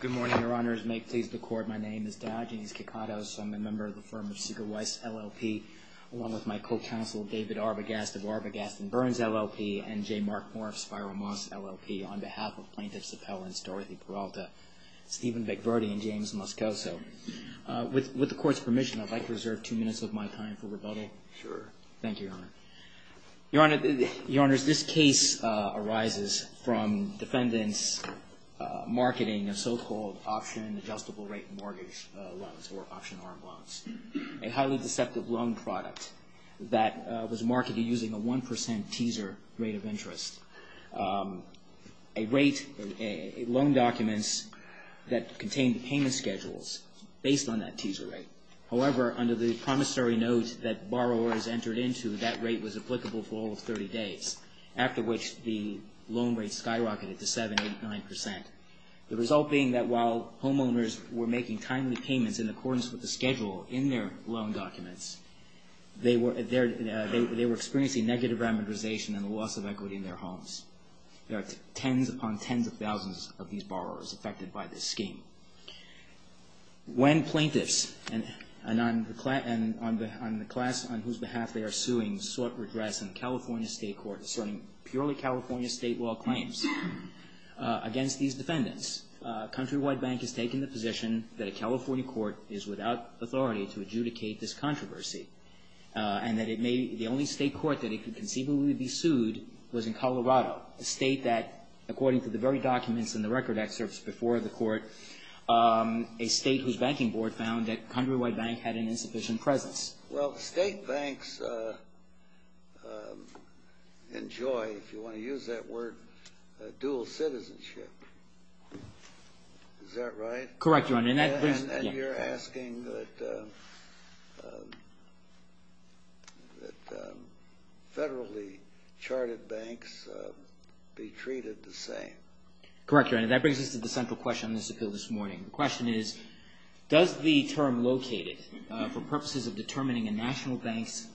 Good morning, Your Honors. May it please the Court, my name is Diogenes Kikatos. I'm a member of the firm of Sigur Weiss, LLP, along with my co-counsel, David Arbogast of Arbogast & Burns, LLP, and J. Mark Morf, Spiral Moss, LLP, on behalf of plaintiffs Appellants Dorothy Peralta, Stephen Bickverdi, and James Moscoso. With the Court's permission, I'd like to reserve two minutes of my time for rebuttal. Sure. Thank you, Your Honor. Your Honor, Your Honors, this case arises from defendants' marketing of so-called option-adjustable rate mortgage loans, or option-armed loans, a highly deceptive loan product that was marketed using a 1 percent teaser rate of interest, a rate, loan documents that contained payment schedules based on that teaser rate. However, under the promissory note that borrowers entered into, that rate was applicable for all of 30 days, after which the loan rates skyrocketed to 7, 8, 9 percent, the result being that while homeowners were making timely payments in accordance with the schedule in their loan documents, they were experiencing negative rapidization and a loss of equity in their homes. There are tens upon tens of thousands of these borrowers affected by this scheme. When plaintiffs and the class on whose behalf they are suing sought redress in the California State Court, asserting purely California state law claims against these defendants, Countrywide Bank has taken the position that a California court is without authority to adjudicate this controversy, and that the only state court that it could conceivably be sued was in Colorado, a state that, according to the very documents and the record excerpts before the Court, a state whose banking board found that Countrywide Bank had an insufficient presence. Well, state banks enjoy, if you want to use that word, dual citizenship. Is that right? Correct, Your Honor. And you're asking that federally charted banks be treated the same. Correct, Your Honor. That brings us to the central question on this appeal this morning. The question is, does the term located, for purposes of determining a national bank's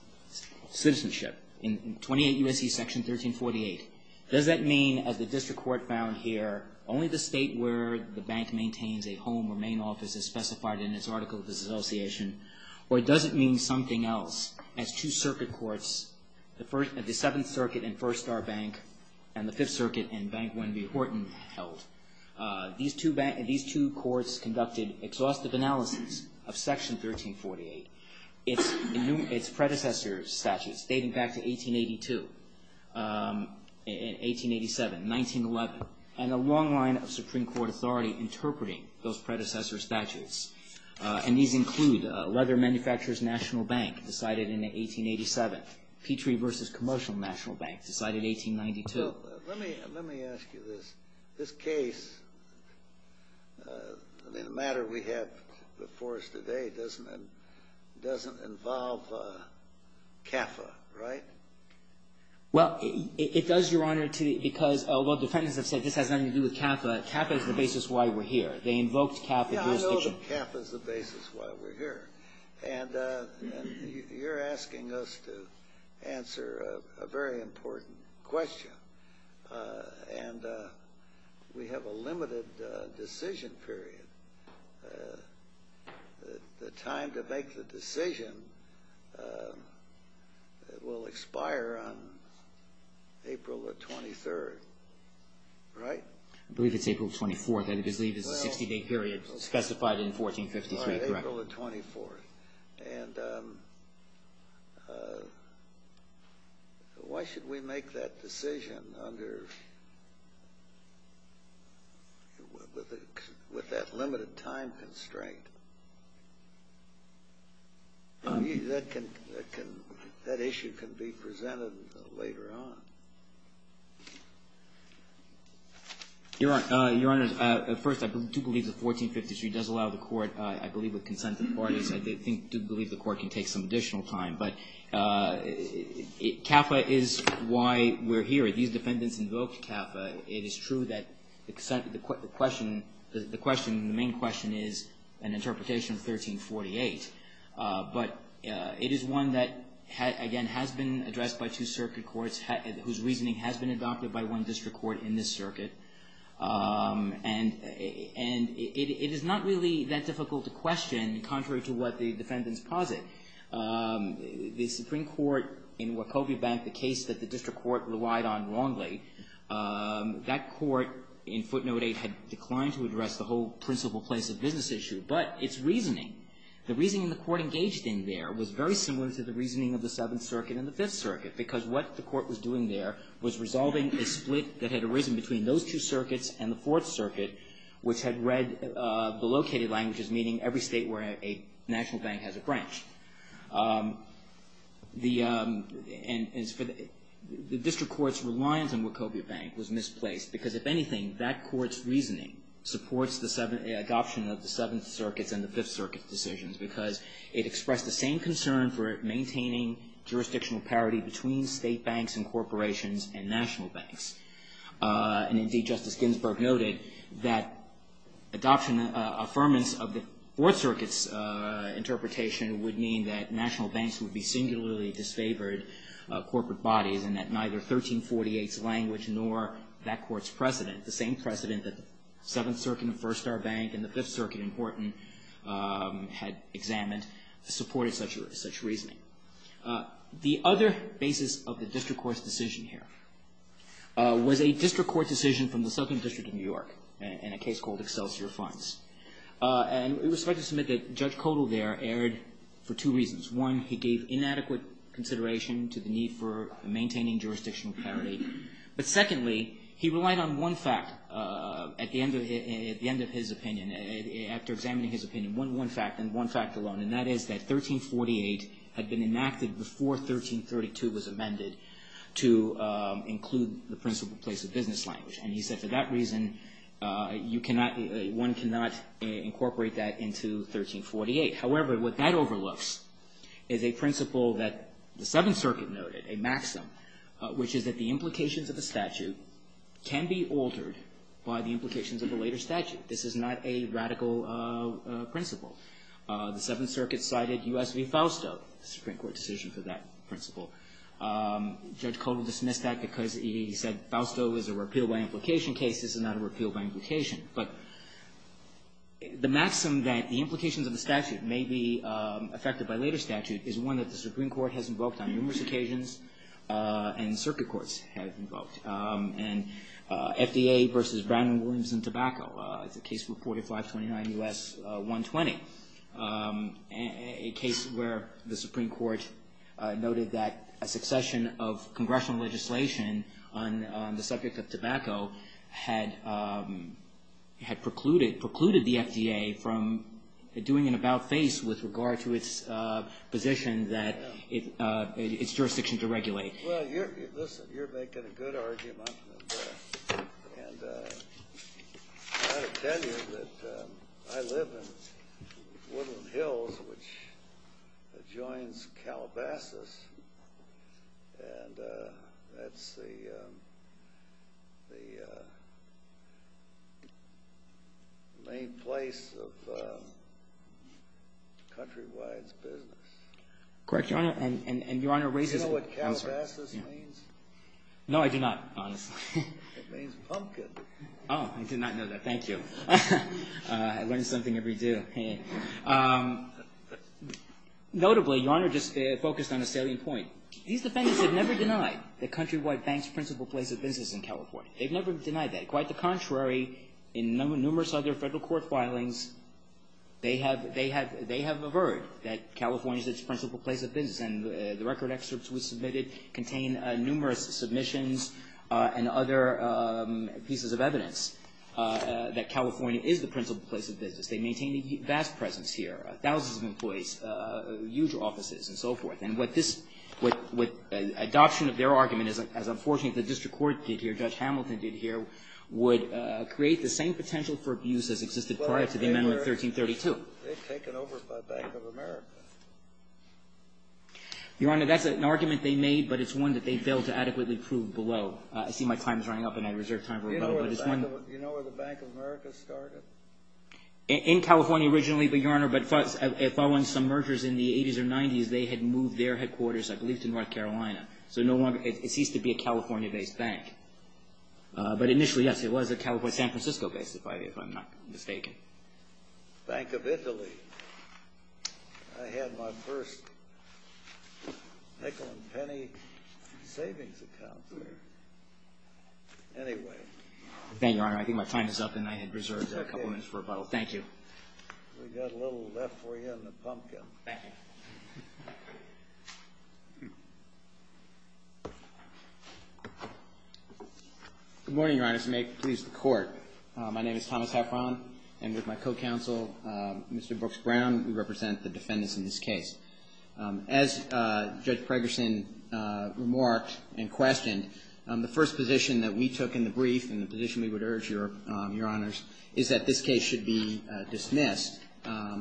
citizenship in 28 U.S.C. Section 1348, does that mean, as the district court found here, only the state where the bank maintains a home or main office is specified in its article of disassociation, or does it mean something else as two circuit courts, the Seventh Circuit and First Star Bank, and the Fifth Circuit and Bank Wendy Horton held? These two courts conducted exhaustive analysis of Section 1348, its predecessor statutes, dating back to 1882, 1887, 1911, and a long line of Supreme Court authority interpreting those predecessor statutes. And these include Leather Manufacturers National Bank, decided in 1887, Petrie v. Commercial National Bank, decided 1892. Let me ask you this. This case, the matter we have before us today, doesn't involve CAFA, right? Well, it does, Your Honor, because while defendants have said this has nothing to do with CAFA, CAFA is the basis why we're here. They invoked CAFA jurisdiction. And you're asking us to answer a very important question, and we have a limited decision period. The time to make the decision will expire on April the 23rd, right? I believe it's April 24th. I believe it's a 60-day period specified in 1453, correct? April the 24th. And why should we make that decision with that limited time constraint? That issue can be presented later on. Your Honor, first, I do believe that 1453 does allow the Court, I believe with consent of the parties, I do believe the Court can take some additional time. But CAFA is why we're here. These defendants invoked CAFA. It is true that the question, the main question is an interpretation of 1348. But it is one that, again, has been addressed by two circuit courts whose reasoning has been adopted by one district court in this circuit. And it is not really that difficult to question, contrary to what the defendants posit. The Supreme Court in Wachovia Bank, the case that the district court relied on wrongly, that court in footnote 8 had declined to address the whole principal place of business issue. But its reasoning, the reasoning the Court engaged in there was very similar to the reasoning of the Seventh Circuit and the Fifth Circuit. Because what the Court was doing there was resolving a split that had arisen between those two circuits and the Fourth Circuit, which had read the located languages, meaning every state where a national bank has a branch. The district court's reliance on Wachovia Bank was misplaced because, if anything, that court's reasoning supports the adoption of the Seventh Circuit's and the Fifth Circuit's decisions because it expressed the same concern for maintaining jurisdictional parity between state banks and corporations and national banks. And indeed, Justice Ginsburg noted that adoption, affirmance of the Fourth Circuit's interpretation would mean that national banks would be singularly disfavored of corporate bodies and that neither 1348's language nor that court's precedent, the same precedent that the Seventh Circuit and First Star Bank and the Fifth Circuit in Horton had examined, supported such reasoning. The other basis of the district court's decision here was a district court decision from the Second District of New York in a case called Excelsior Fines. And it was fair to submit that Judge Kodal there erred for two reasons. One, he gave inadequate consideration to the need for maintaining jurisdictional parity. But secondly, he relied on one fact at the end of his opinion, after examining his opinion, one fact and one fact alone, and that is that 1348 had been enacted before 1332 was amended to include the principle place of business language. And he said for that reason, one cannot incorporate that into 1348. However, what that overlooks is a principle that the Seventh Circuit noted, a maxim, which is that the implications of the statute can be altered by the implications of the later statute. This is not a radical principle. The Seventh Circuit cited U.S. v. Fausto, the Supreme Court decision for that principle. Judge Kodal dismissed that because he said Fausto is a repeal-by-implication case. This is not a repeal-by-implication. But the maxim that the implications of the statute may be affected by later statute is one that the Supreme Court has invoked on numerous occasions and circuit courts have invoked. And FDA v. Brandon, Williams & Tobacco is a case reported 529 U.S. 120, a case where the Supreme Court noted that a succession of congressional legislation on the subject of tobacco had precluded the FDA from doing an about-face with regard to its position that its jurisdiction to regulate. Well, listen, you're making a good argument, and I'll tell you that I live in Woodland Hills, which adjoins Calabasas, and that's the main place of Countrywide's business. Correct, Your Honor, and Your Honor raises it. Do you know what Calabasas means? No, I do not, honestly. It means pumpkin. Oh, I did not know that. Thank you. I learn something every day. Notably, Your Honor just focused on a salient point. These defendants have never denied that Countrywide Bank is the principal place of business in California. They've never denied that. Quite the contrary, in numerous other federal court filings, they have averred that California is its principal place of business. And the record excerpts we submitted contain numerous submissions and other pieces of evidence that California is the principal place of business. They maintain a vast presence here, thousands of employees, huge offices and so forth. And what this adoption of their argument is, as unfortunately the district court did here, Judge Hamilton did here, would create the same potential for abuse as existed prior to the Amendment 1332. They've taken over by Bank of America. Your Honor, that's an argument they made, but it's one that they failed to adequately prove below. I see my time is running up, and I reserve time for rebuttal. Do you know where the Bank of America started? In California originally, but, Your Honor, following some mergers in the 80s or 90s, they had moved their headquarters, I believe, to North Carolina. So it ceased to be a California-based bank. But initially, yes, it was a San Francisco-based, if I'm not mistaken. Bank of Italy. I had my first nickel-and-penny savings account there. Thank you, Your Honor. I think my time is up, and I had reserved a couple minutes for rebuttal. Thank you. We've got a little left for you in the pumpkin. Thank you. Good morning, Your Honor. May it please the Court. My name is Thomas Heffron, and with my co-counsel, Mr. Brooks-Brown, we represent the defendants in this case. As Judge Pregerson remarked and questioned, the first position that we took in the brief and the position we would urge, Your Honors, is that this case should be dismissed,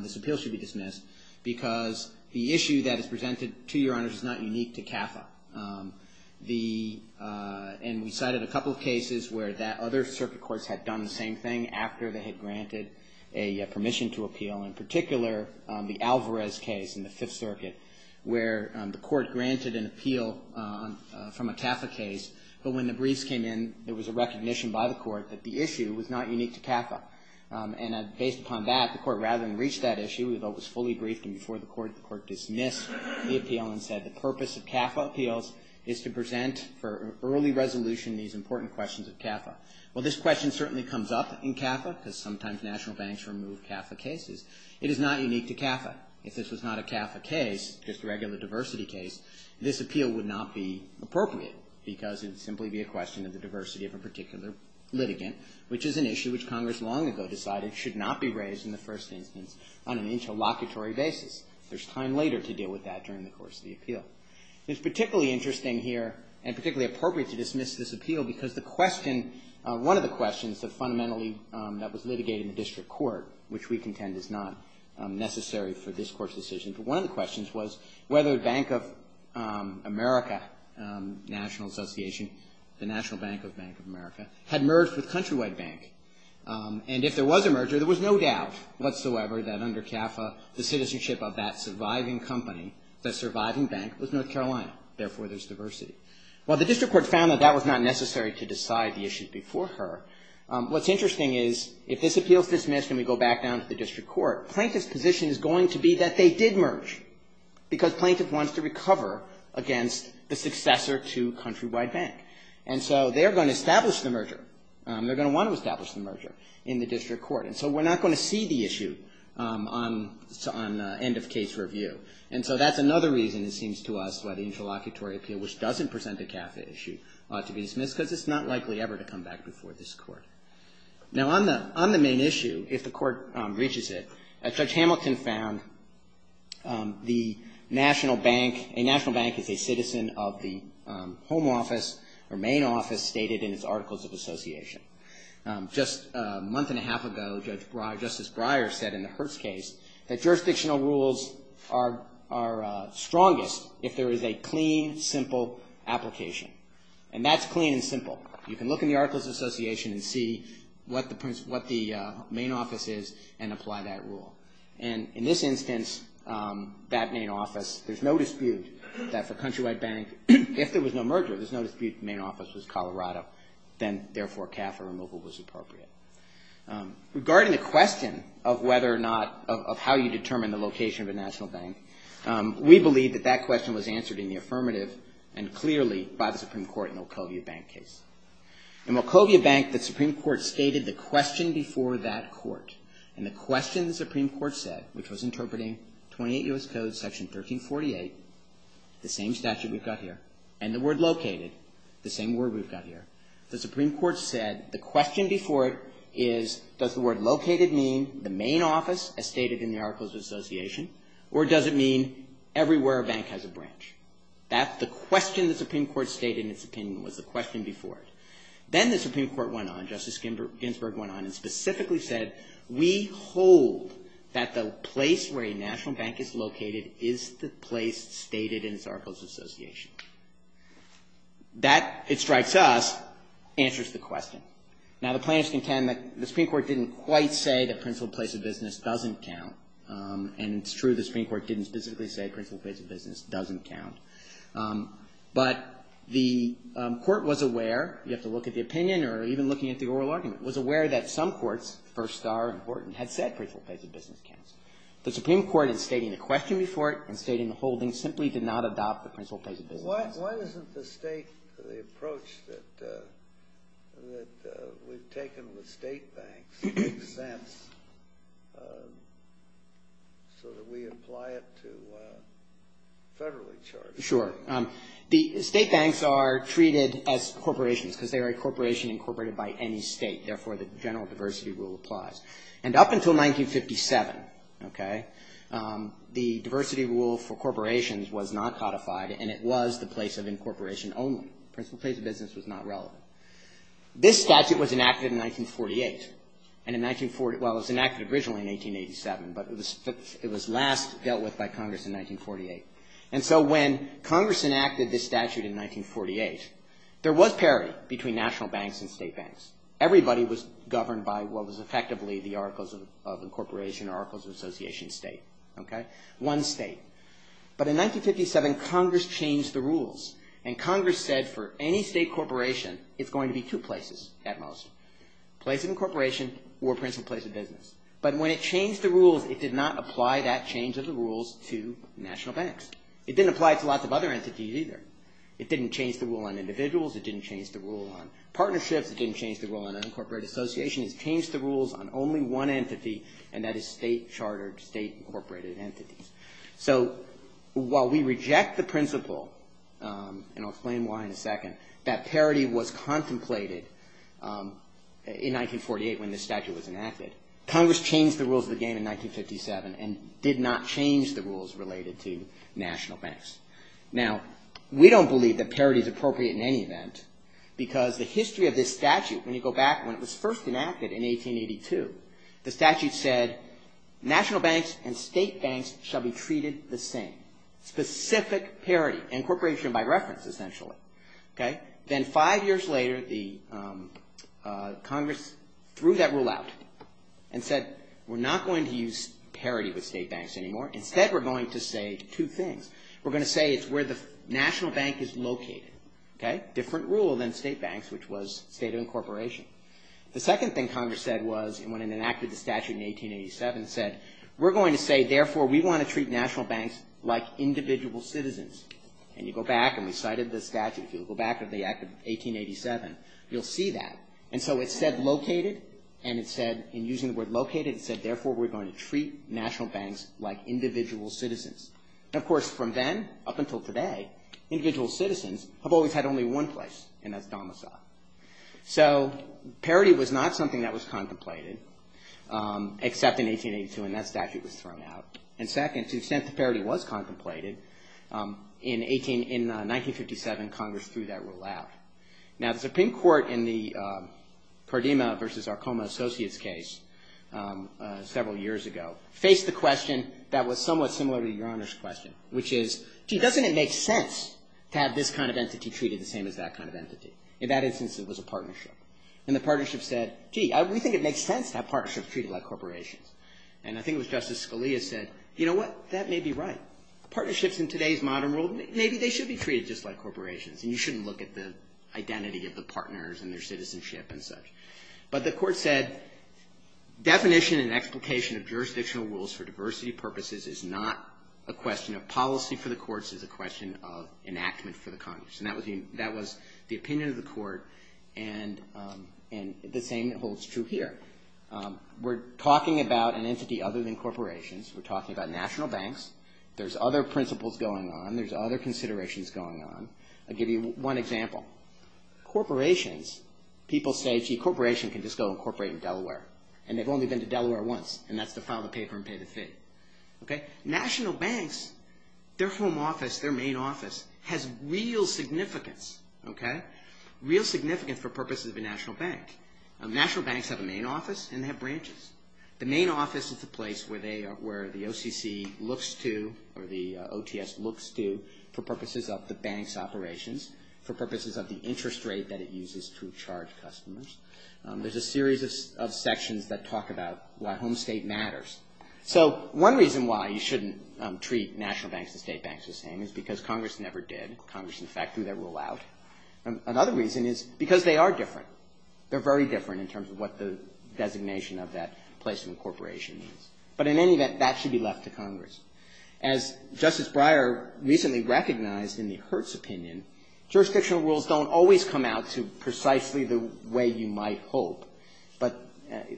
this appeal should be dismissed, because the issue that is presented to Your Honors is not unique to CAFA. And we cited a couple of cases where other circuit courts had done the same thing after they had granted a permission to appeal. In particular, the Alvarez case in the Fifth Circuit, where the court granted an appeal from a CAFA case, but when the briefs came in, there was a recognition by the court that the issue was not unique to CAFA. And based upon that, the court, rather than reach that issue, though it was fully briefed and before the court, the court dismissed the appeal and said the purpose of CAFA appeals is to present for early resolution these important questions of CAFA. Well, this question certainly comes up in CAFA, because sometimes national banks remove CAFA cases. It is not unique to CAFA. If this was not a CAFA case, just a regular diversity case, this appeal would not be appropriate, because it would simply be a question of the diversity of a particular litigant, which is an issue which Congress long ago decided should not be raised in the first instance on an interlocutory basis. There's time later to deal with that during the course of the appeal. It's particularly interesting here and particularly appropriate to dismiss this appeal, because the question, one of the questions that fundamentally that was litigated in the district court, which we contend is not necessary for this court's decision, but one of the questions was whether Bank of America National Association, the National Bank of Bank of America, had merged with Countrywide Bank. And if there was a merger, there was no doubt whatsoever that under CAFA, the citizenship of that surviving company, that surviving bank, was North Carolina. Therefore, there's diversity. Well, the district court found that that was not necessary to decide the issue before her. What's interesting is if this appeal is dismissed and we go back down to the district court, plaintiff's position is going to be that they did merge, because plaintiff wants to recover against the successor to Countrywide Bank. And so they're going to establish the merger. They're going to want to establish the merger in the district court. And so we're not going to see the issue on end of case review. And so that's another reason, it seems to us, why the interlocutory appeal, which doesn't present a CAFA issue, ought to be dismissed, because it's not likely ever to come back before this court. Now, on the main issue, if the court reaches it, Judge Hamilton found the national bank, a national bank is a citizen of the home office or main office stated in its Articles of Association. Just a month and a half ago, Justice Breyer said in the Hertz case that jurisdictional rules are strongest if there is a clean, simple application. And that's clean and simple. You can look in the Articles of Association and see what the main office is and apply that rule. And in this instance, that main office, there's no dispute that for Countrywide Bank, if there was no merger, there's no dispute the main office was Colorado. Then, therefore, CAFA removal was appropriate. Regarding the question of whether or not, of how you determine the location of a national bank, we believe that that question was answered in the affirmative and clearly by the Supreme Court in the Wachovia Bank case. In Wachovia Bank, the Supreme Court stated the question before that court. And the question the Supreme Court said, which was interpreting 28 U.S. Codes, Section 1348, the same statute we've got here, and the word located, the same word we've got here. The Supreme Court said the question before it is, does the word located mean the main office as stated in the Articles of Association or does it mean everywhere a bank has a branch? That's the question the Supreme Court stated in its opinion, was the question before it. Then the Supreme Court went on, Justice Ginsburg went on and specifically said, we hold that the place where a national bank is located is the place stated in its Articles of Association. That, it strikes us, answers the question. Now, the plaintiffs contend that the Supreme Court didn't quite say that principled place of business doesn't count. And it's true the Supreme Court didn't specifically say principled place of business doesn't count. But the court was aware, you have to look at the opinion or even looking at the oral argument, was aware that some courts, Firstar and Horton, had said principled place of business counts. The Supreme Court in stating the question before it and stating the holding simply did not adopt the principled place of business. Why isn't the state, the approach that we've taken with state banks makes sense so that we apply it to federally charged banks? Sure. The state banks are treated as corporations because they are a corporation incorporated by any state. Therefore, the general diversity rule applies. And up until 1957, okay, the diversity rule for corporations was not codified and it was the place of incorporation only. Principled place of business was not relevant. This statute was enacted in 1948. And in 1940, well, it was enacted originally in 1887, but it was last dealt with by Congress in 1948. And so when Congress enacted this statute in 1948, there was parity between national banks and state banks. Everybody was governed by what was effectively the articles of incorporation, articles of association state. Okay? One state. But in 1957, Congress changed the rules. And Congress said for any state corporation, it's going to be two places at most, place of incorporation or principled place of business. But when it changed the rules, it did not apply that change of the rules to national banks. It didn't apply to lots of other entities either. It didn't change the rule on individuals. It didn't change the rule on partnerships. It didn't change the rule on an incorporated association. It changed the rules on only one entity, and that is state chartered, state incorporated entities. So while we reject the principle, and I'll explain why in a second, that parity was contemplated in 1948 when this statute was enacted, Congress changed the rules of the game in 1957 and did not change the rules related to national banks. Now, we don't believe that parity is appropriate in any event because the history of this statute, when you go back when it was first enacted in 1882, the statute said national banks and state banks shall be treated the same. Specific parity, incorporation by reference, essentially. Then five years later, Congress threw that rule out and said, we're not going to use parity with state banks anymore. Instead, we're going to say two things. We're going to say it's where the national bank is located. Different rule than state banks, which was state of incorporation. The second thing Congress said was, and when it enacted the statute in 1887, it said, we're going to say, therefore, we want to treat national banks like individual citizens. And you go back, and we cited the statute. If you go back to the act of 1887, you'll see that. And so it said located, and it said, in using the word located, it said, therefore, we're going to treat national banks like individual citizens. And, of course, from then up until today, individual citizens have always had only one place, and that's domicile. So parity was not something that was contemplated, except in 1882, and that statute was thrown out. And second, to the extent that parity was contemplated, in 1957, Congress threw that rule out. Now, the Supreme Court in the Cardema v. Arcoma Associates case several years ago faced the question that was somewhat similar to Your Honor's question, which is, gee, doesn't it make sense to have this kind of entity treated the same as that kind of entity? In that instance, it was a partnership. And the partnership said, gee, we think it makes sense to have partnerships treated like corporations. And I think it was Justice Scalia said, you know what, that may be right. Partnerships in today's modern world, maybe they should be treated just like corporations, and you shouldn't look at the identity of the partners and their citizenship and such. But the Court said, definition and explication of jurisdictional rules for diversity purposes is not a question of policy for the courts. It's a question of enactment for the Congress. And that was the opinion of the Court, and the same holds true here. We're talking about an entity other than corporations. We're talking about national banks. There's other principles going on. There's other considerations going on. I'll give you one example. Corporations, people say, gee, a corporation can just go and incorporate in Delaware. And they've only been to Delaware once, and that's to file the paper and pay the fee. National banks, their home office, their main office, has real significance. Real significance for purposes of a national bank. National banks have a main office, and they have branches. The main office is the place where the OCC looks to, or the OTS looks to, for purposes of the bank's operations, for purposes of the interest rate that it uses to charge customers. There's a series of sections that talk about why home state matters. So one reason why you shouldn't treat national banks and state banks the same is because Congress never did. Congress, in fact, threw that rule out. Another reason is because they are different. They're very different in terms of what the designation of that place of incorporation means. But in any event, that should be left to Congress. As Justice Breyer recently recognized in the Hertz opinion, jurisdictional rules don't always come out to precisely the way you might hope, but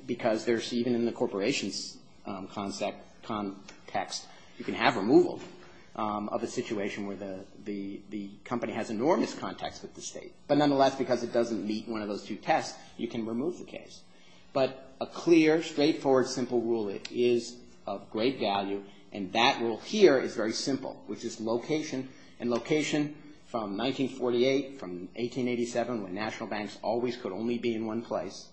because even in the corporation's context, you can have removal of a situation where the company has enormous contacts with the state. But nonetheless, because it doesn't meet one of those two tests, you can remove the case. But a clear, straightforward, simple rule is of great value, and that rule here is very simple, which is location. And location, from 1948, from 1887, when national banks always could only be in one place,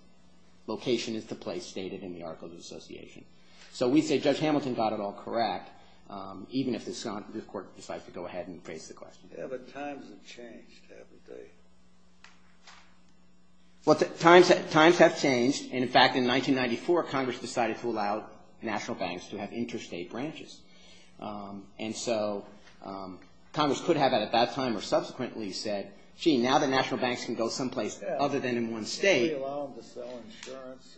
location is the place stated in the Articles of Association. So we say Judge Hamilton got it all correct, even if the court decides to go ahead and raise the question. Yeah, but times have changed, haven't they? Times have changed. In fact, in 1994, Congress decided to allow national banks to have interstate branches. And so Congress could have, at that time or subsequently, said, gee, now that national banks can go someplace other than in one state. Yeah, they allow them to sell insurance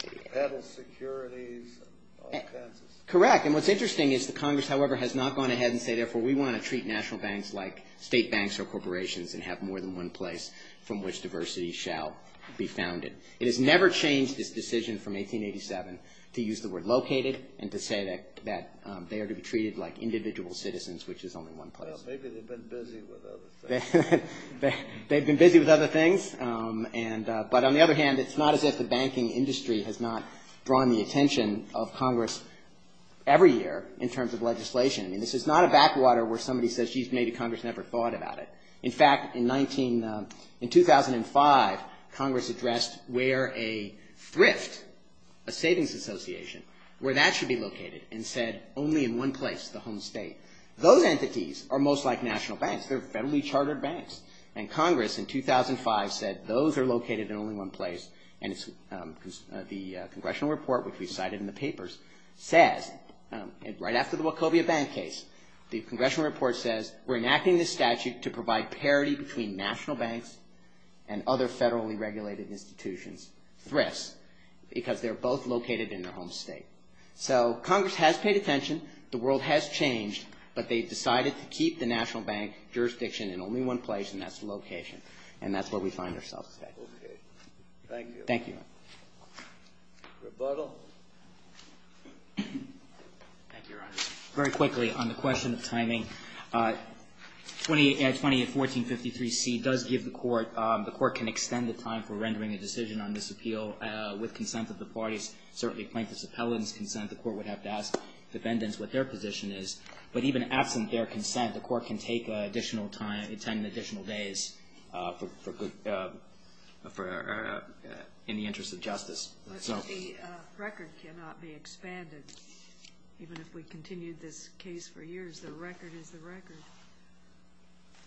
and pedal securities and all kinds of stuff. Correct. And what's interesting is that Congress, however, has not gone ahead and said, therefore, we want to treat national banks like state banks or corporations and have more than one place from which diversity shall be founded. It has never changed this decision from 1887 to use the word located and to say that they are to be treated like individual citizens, which is only one place. Well, maybe they've been busy with other things. They've been busy with other things. But on the other hand, it's not as if the banking industry has not drawn the attention of Congress every year in terms of legislation. I mean, this is not a backwater where somebody says, gee, maybe Congress never thought about it. In fact, in 2005, Congress addressed where a thrift, a savings association, where that should be located and said only in one place, the home state. Those entities are most like national banks. They're federally chartered banks. And Congress, in 2005, said those are located in only one place. And the congressional report, which we cited in the papers, says, right after the Wachovia bank case, the congressional report says we're enacting this statute to provide parity between national banks and other federally regulated institutions, thrifts, because they're both located in their home state. So Congress has paid attention. The world has changed. But they've decided to keep the national bank jurisdiction in only one place, and that's location. And that's where we find ourselves today. Thank you. Thank you. Rebuttal. Thank you, Your Honor. Very quickly on the question of timing. 2820 and 1453C does give the court the court can extend the time for rendering a decision on this appeal with consent of the parties, certainly plaintiffs' appellants' consent. The court would have to ask defendants what their position is. But even absent their consent, the court can take additional time, attend additional days in the interest of justice. But the record cannot be expanded. Even if we continued this case for years, the record is the record.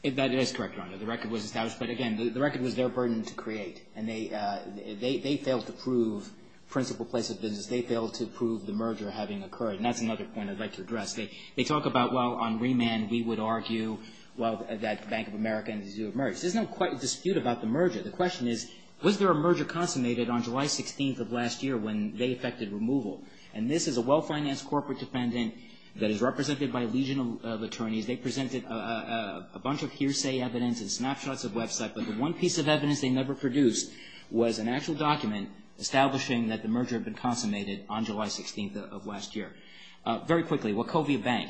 That is correct, Your Honor. The record was established. But, again, the record was their burden to create. And they failed to prove principal place of business. They failed to prove the merger having occurred. And that's another point I'd like to address. They talk about, well, on remand, we would argue that Bank of America had to do a merger. There's no dispute about the merger. The question is, was there a merger consummated on July 16th of last year when they effected removal? And this is a well-financed corporate defendant that is represented by a legion of attorneys. They presented a bunch of hearsay evidence and snapshots of website. But the one piece of evidence they never produced was an actual document establishing that the merger had been consummated on July 16th of last year. Very quickly, Wachovia Bank.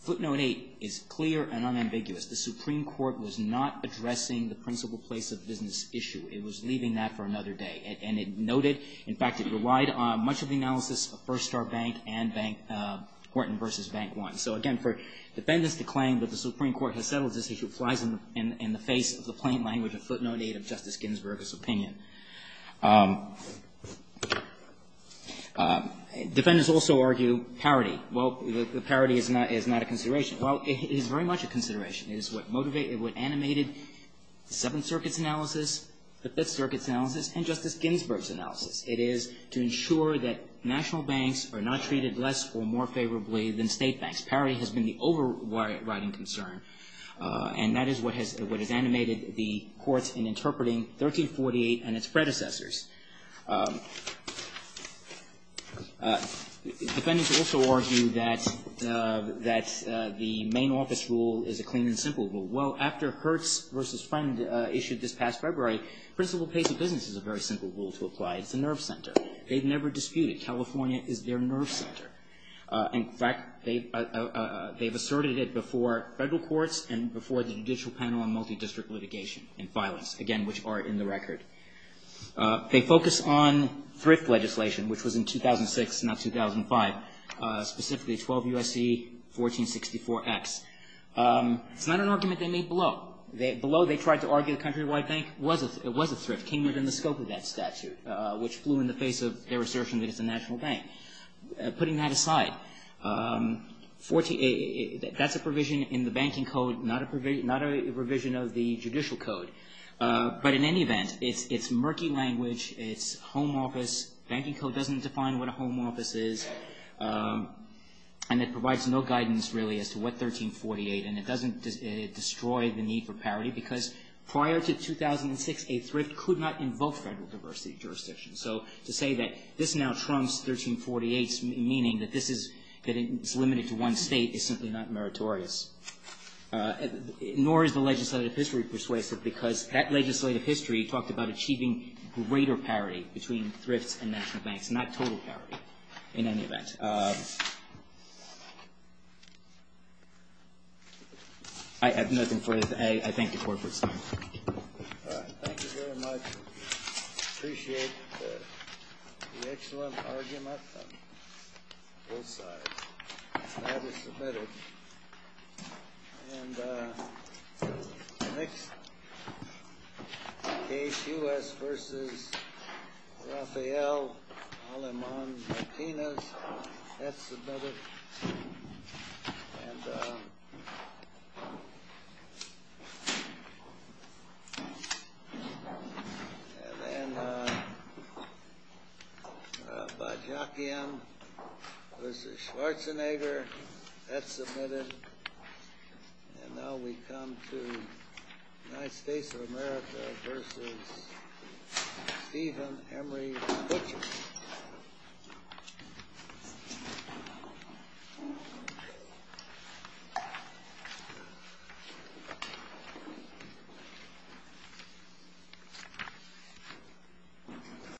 Footnote 8 is clear and unambiguous. The Supreme Court was not addressing the principal place of business issue. It was leaving that for another day. And it noted, in fact, it relied on much of the analysis of Firstar Bank and Bank Horton v. Bank One. So, again, for defendants to claim that the Supreme Court has settled this issue flies in the face of the plain language of footnote 8 of Justice Ginsburg's opinion. Defendants also argue parity. Well, the parity is not a consideration. Well, it is very much a consideration. It is what animated the Seventh Circuit's analysis, the Fifth Circuit's analysis, and Justice Ginsburg's analysis. It is to ensure that national banks are not treated less or more favorably than state banks. Parity has been the overriding concern. And that is what has animated the courts in interpreting 1348 and its predecessors. Defendants also argue that the main office rule is a clean and simple rule. Well, after Hertz v. Friend issued this past February, principal place of business is a very simple rule to apply. It's a nerve center. They've never disputed. California is their nerve center. In fact, they've asserted it before federal courts and before the Judicial Panel on Multidistrict Litigation and Violence, again, which are in the record. They focus on thrift legislation, which was in 2006, not 2005, specifically 12 U.S.C. 1464X. It's not an argument they made below. Below, they tried to argue the Countrywide Bank was a thrift, came within the scope of that statute, which flew in the face of their assertion that it's a national bank. Putting that aside, that's a provision in the banking code, not a provision of the judicial code. But in any event, it's murky language. It's home office. Banking code doesn't define what a home office is. And it provides no guidance, really, as to what 1348. And it doesn't destroy the need for parity because prior to 2006, a thrift could not invoke federal diversity jurisdictions. So to say that this now trumps 1348, meaning that this is limited to one state, is simply not meritorious. Nor is the legislative history persuasive because that legislative history talked about achieving greater parity between thrifts and national banks, not total parity, in any event. I have nothing further to say. I thank the Court for its time. Thank you very much. Appreciate the excellent argument on both sides. That is submitted. And the next case, U.S. v. Rafael Aleman Martinez, that's submitted. And then Bajakian v. Schwarzenegger, that's submitted. And now we come to United States of America v. Stephen Emery Butcher. Thank you.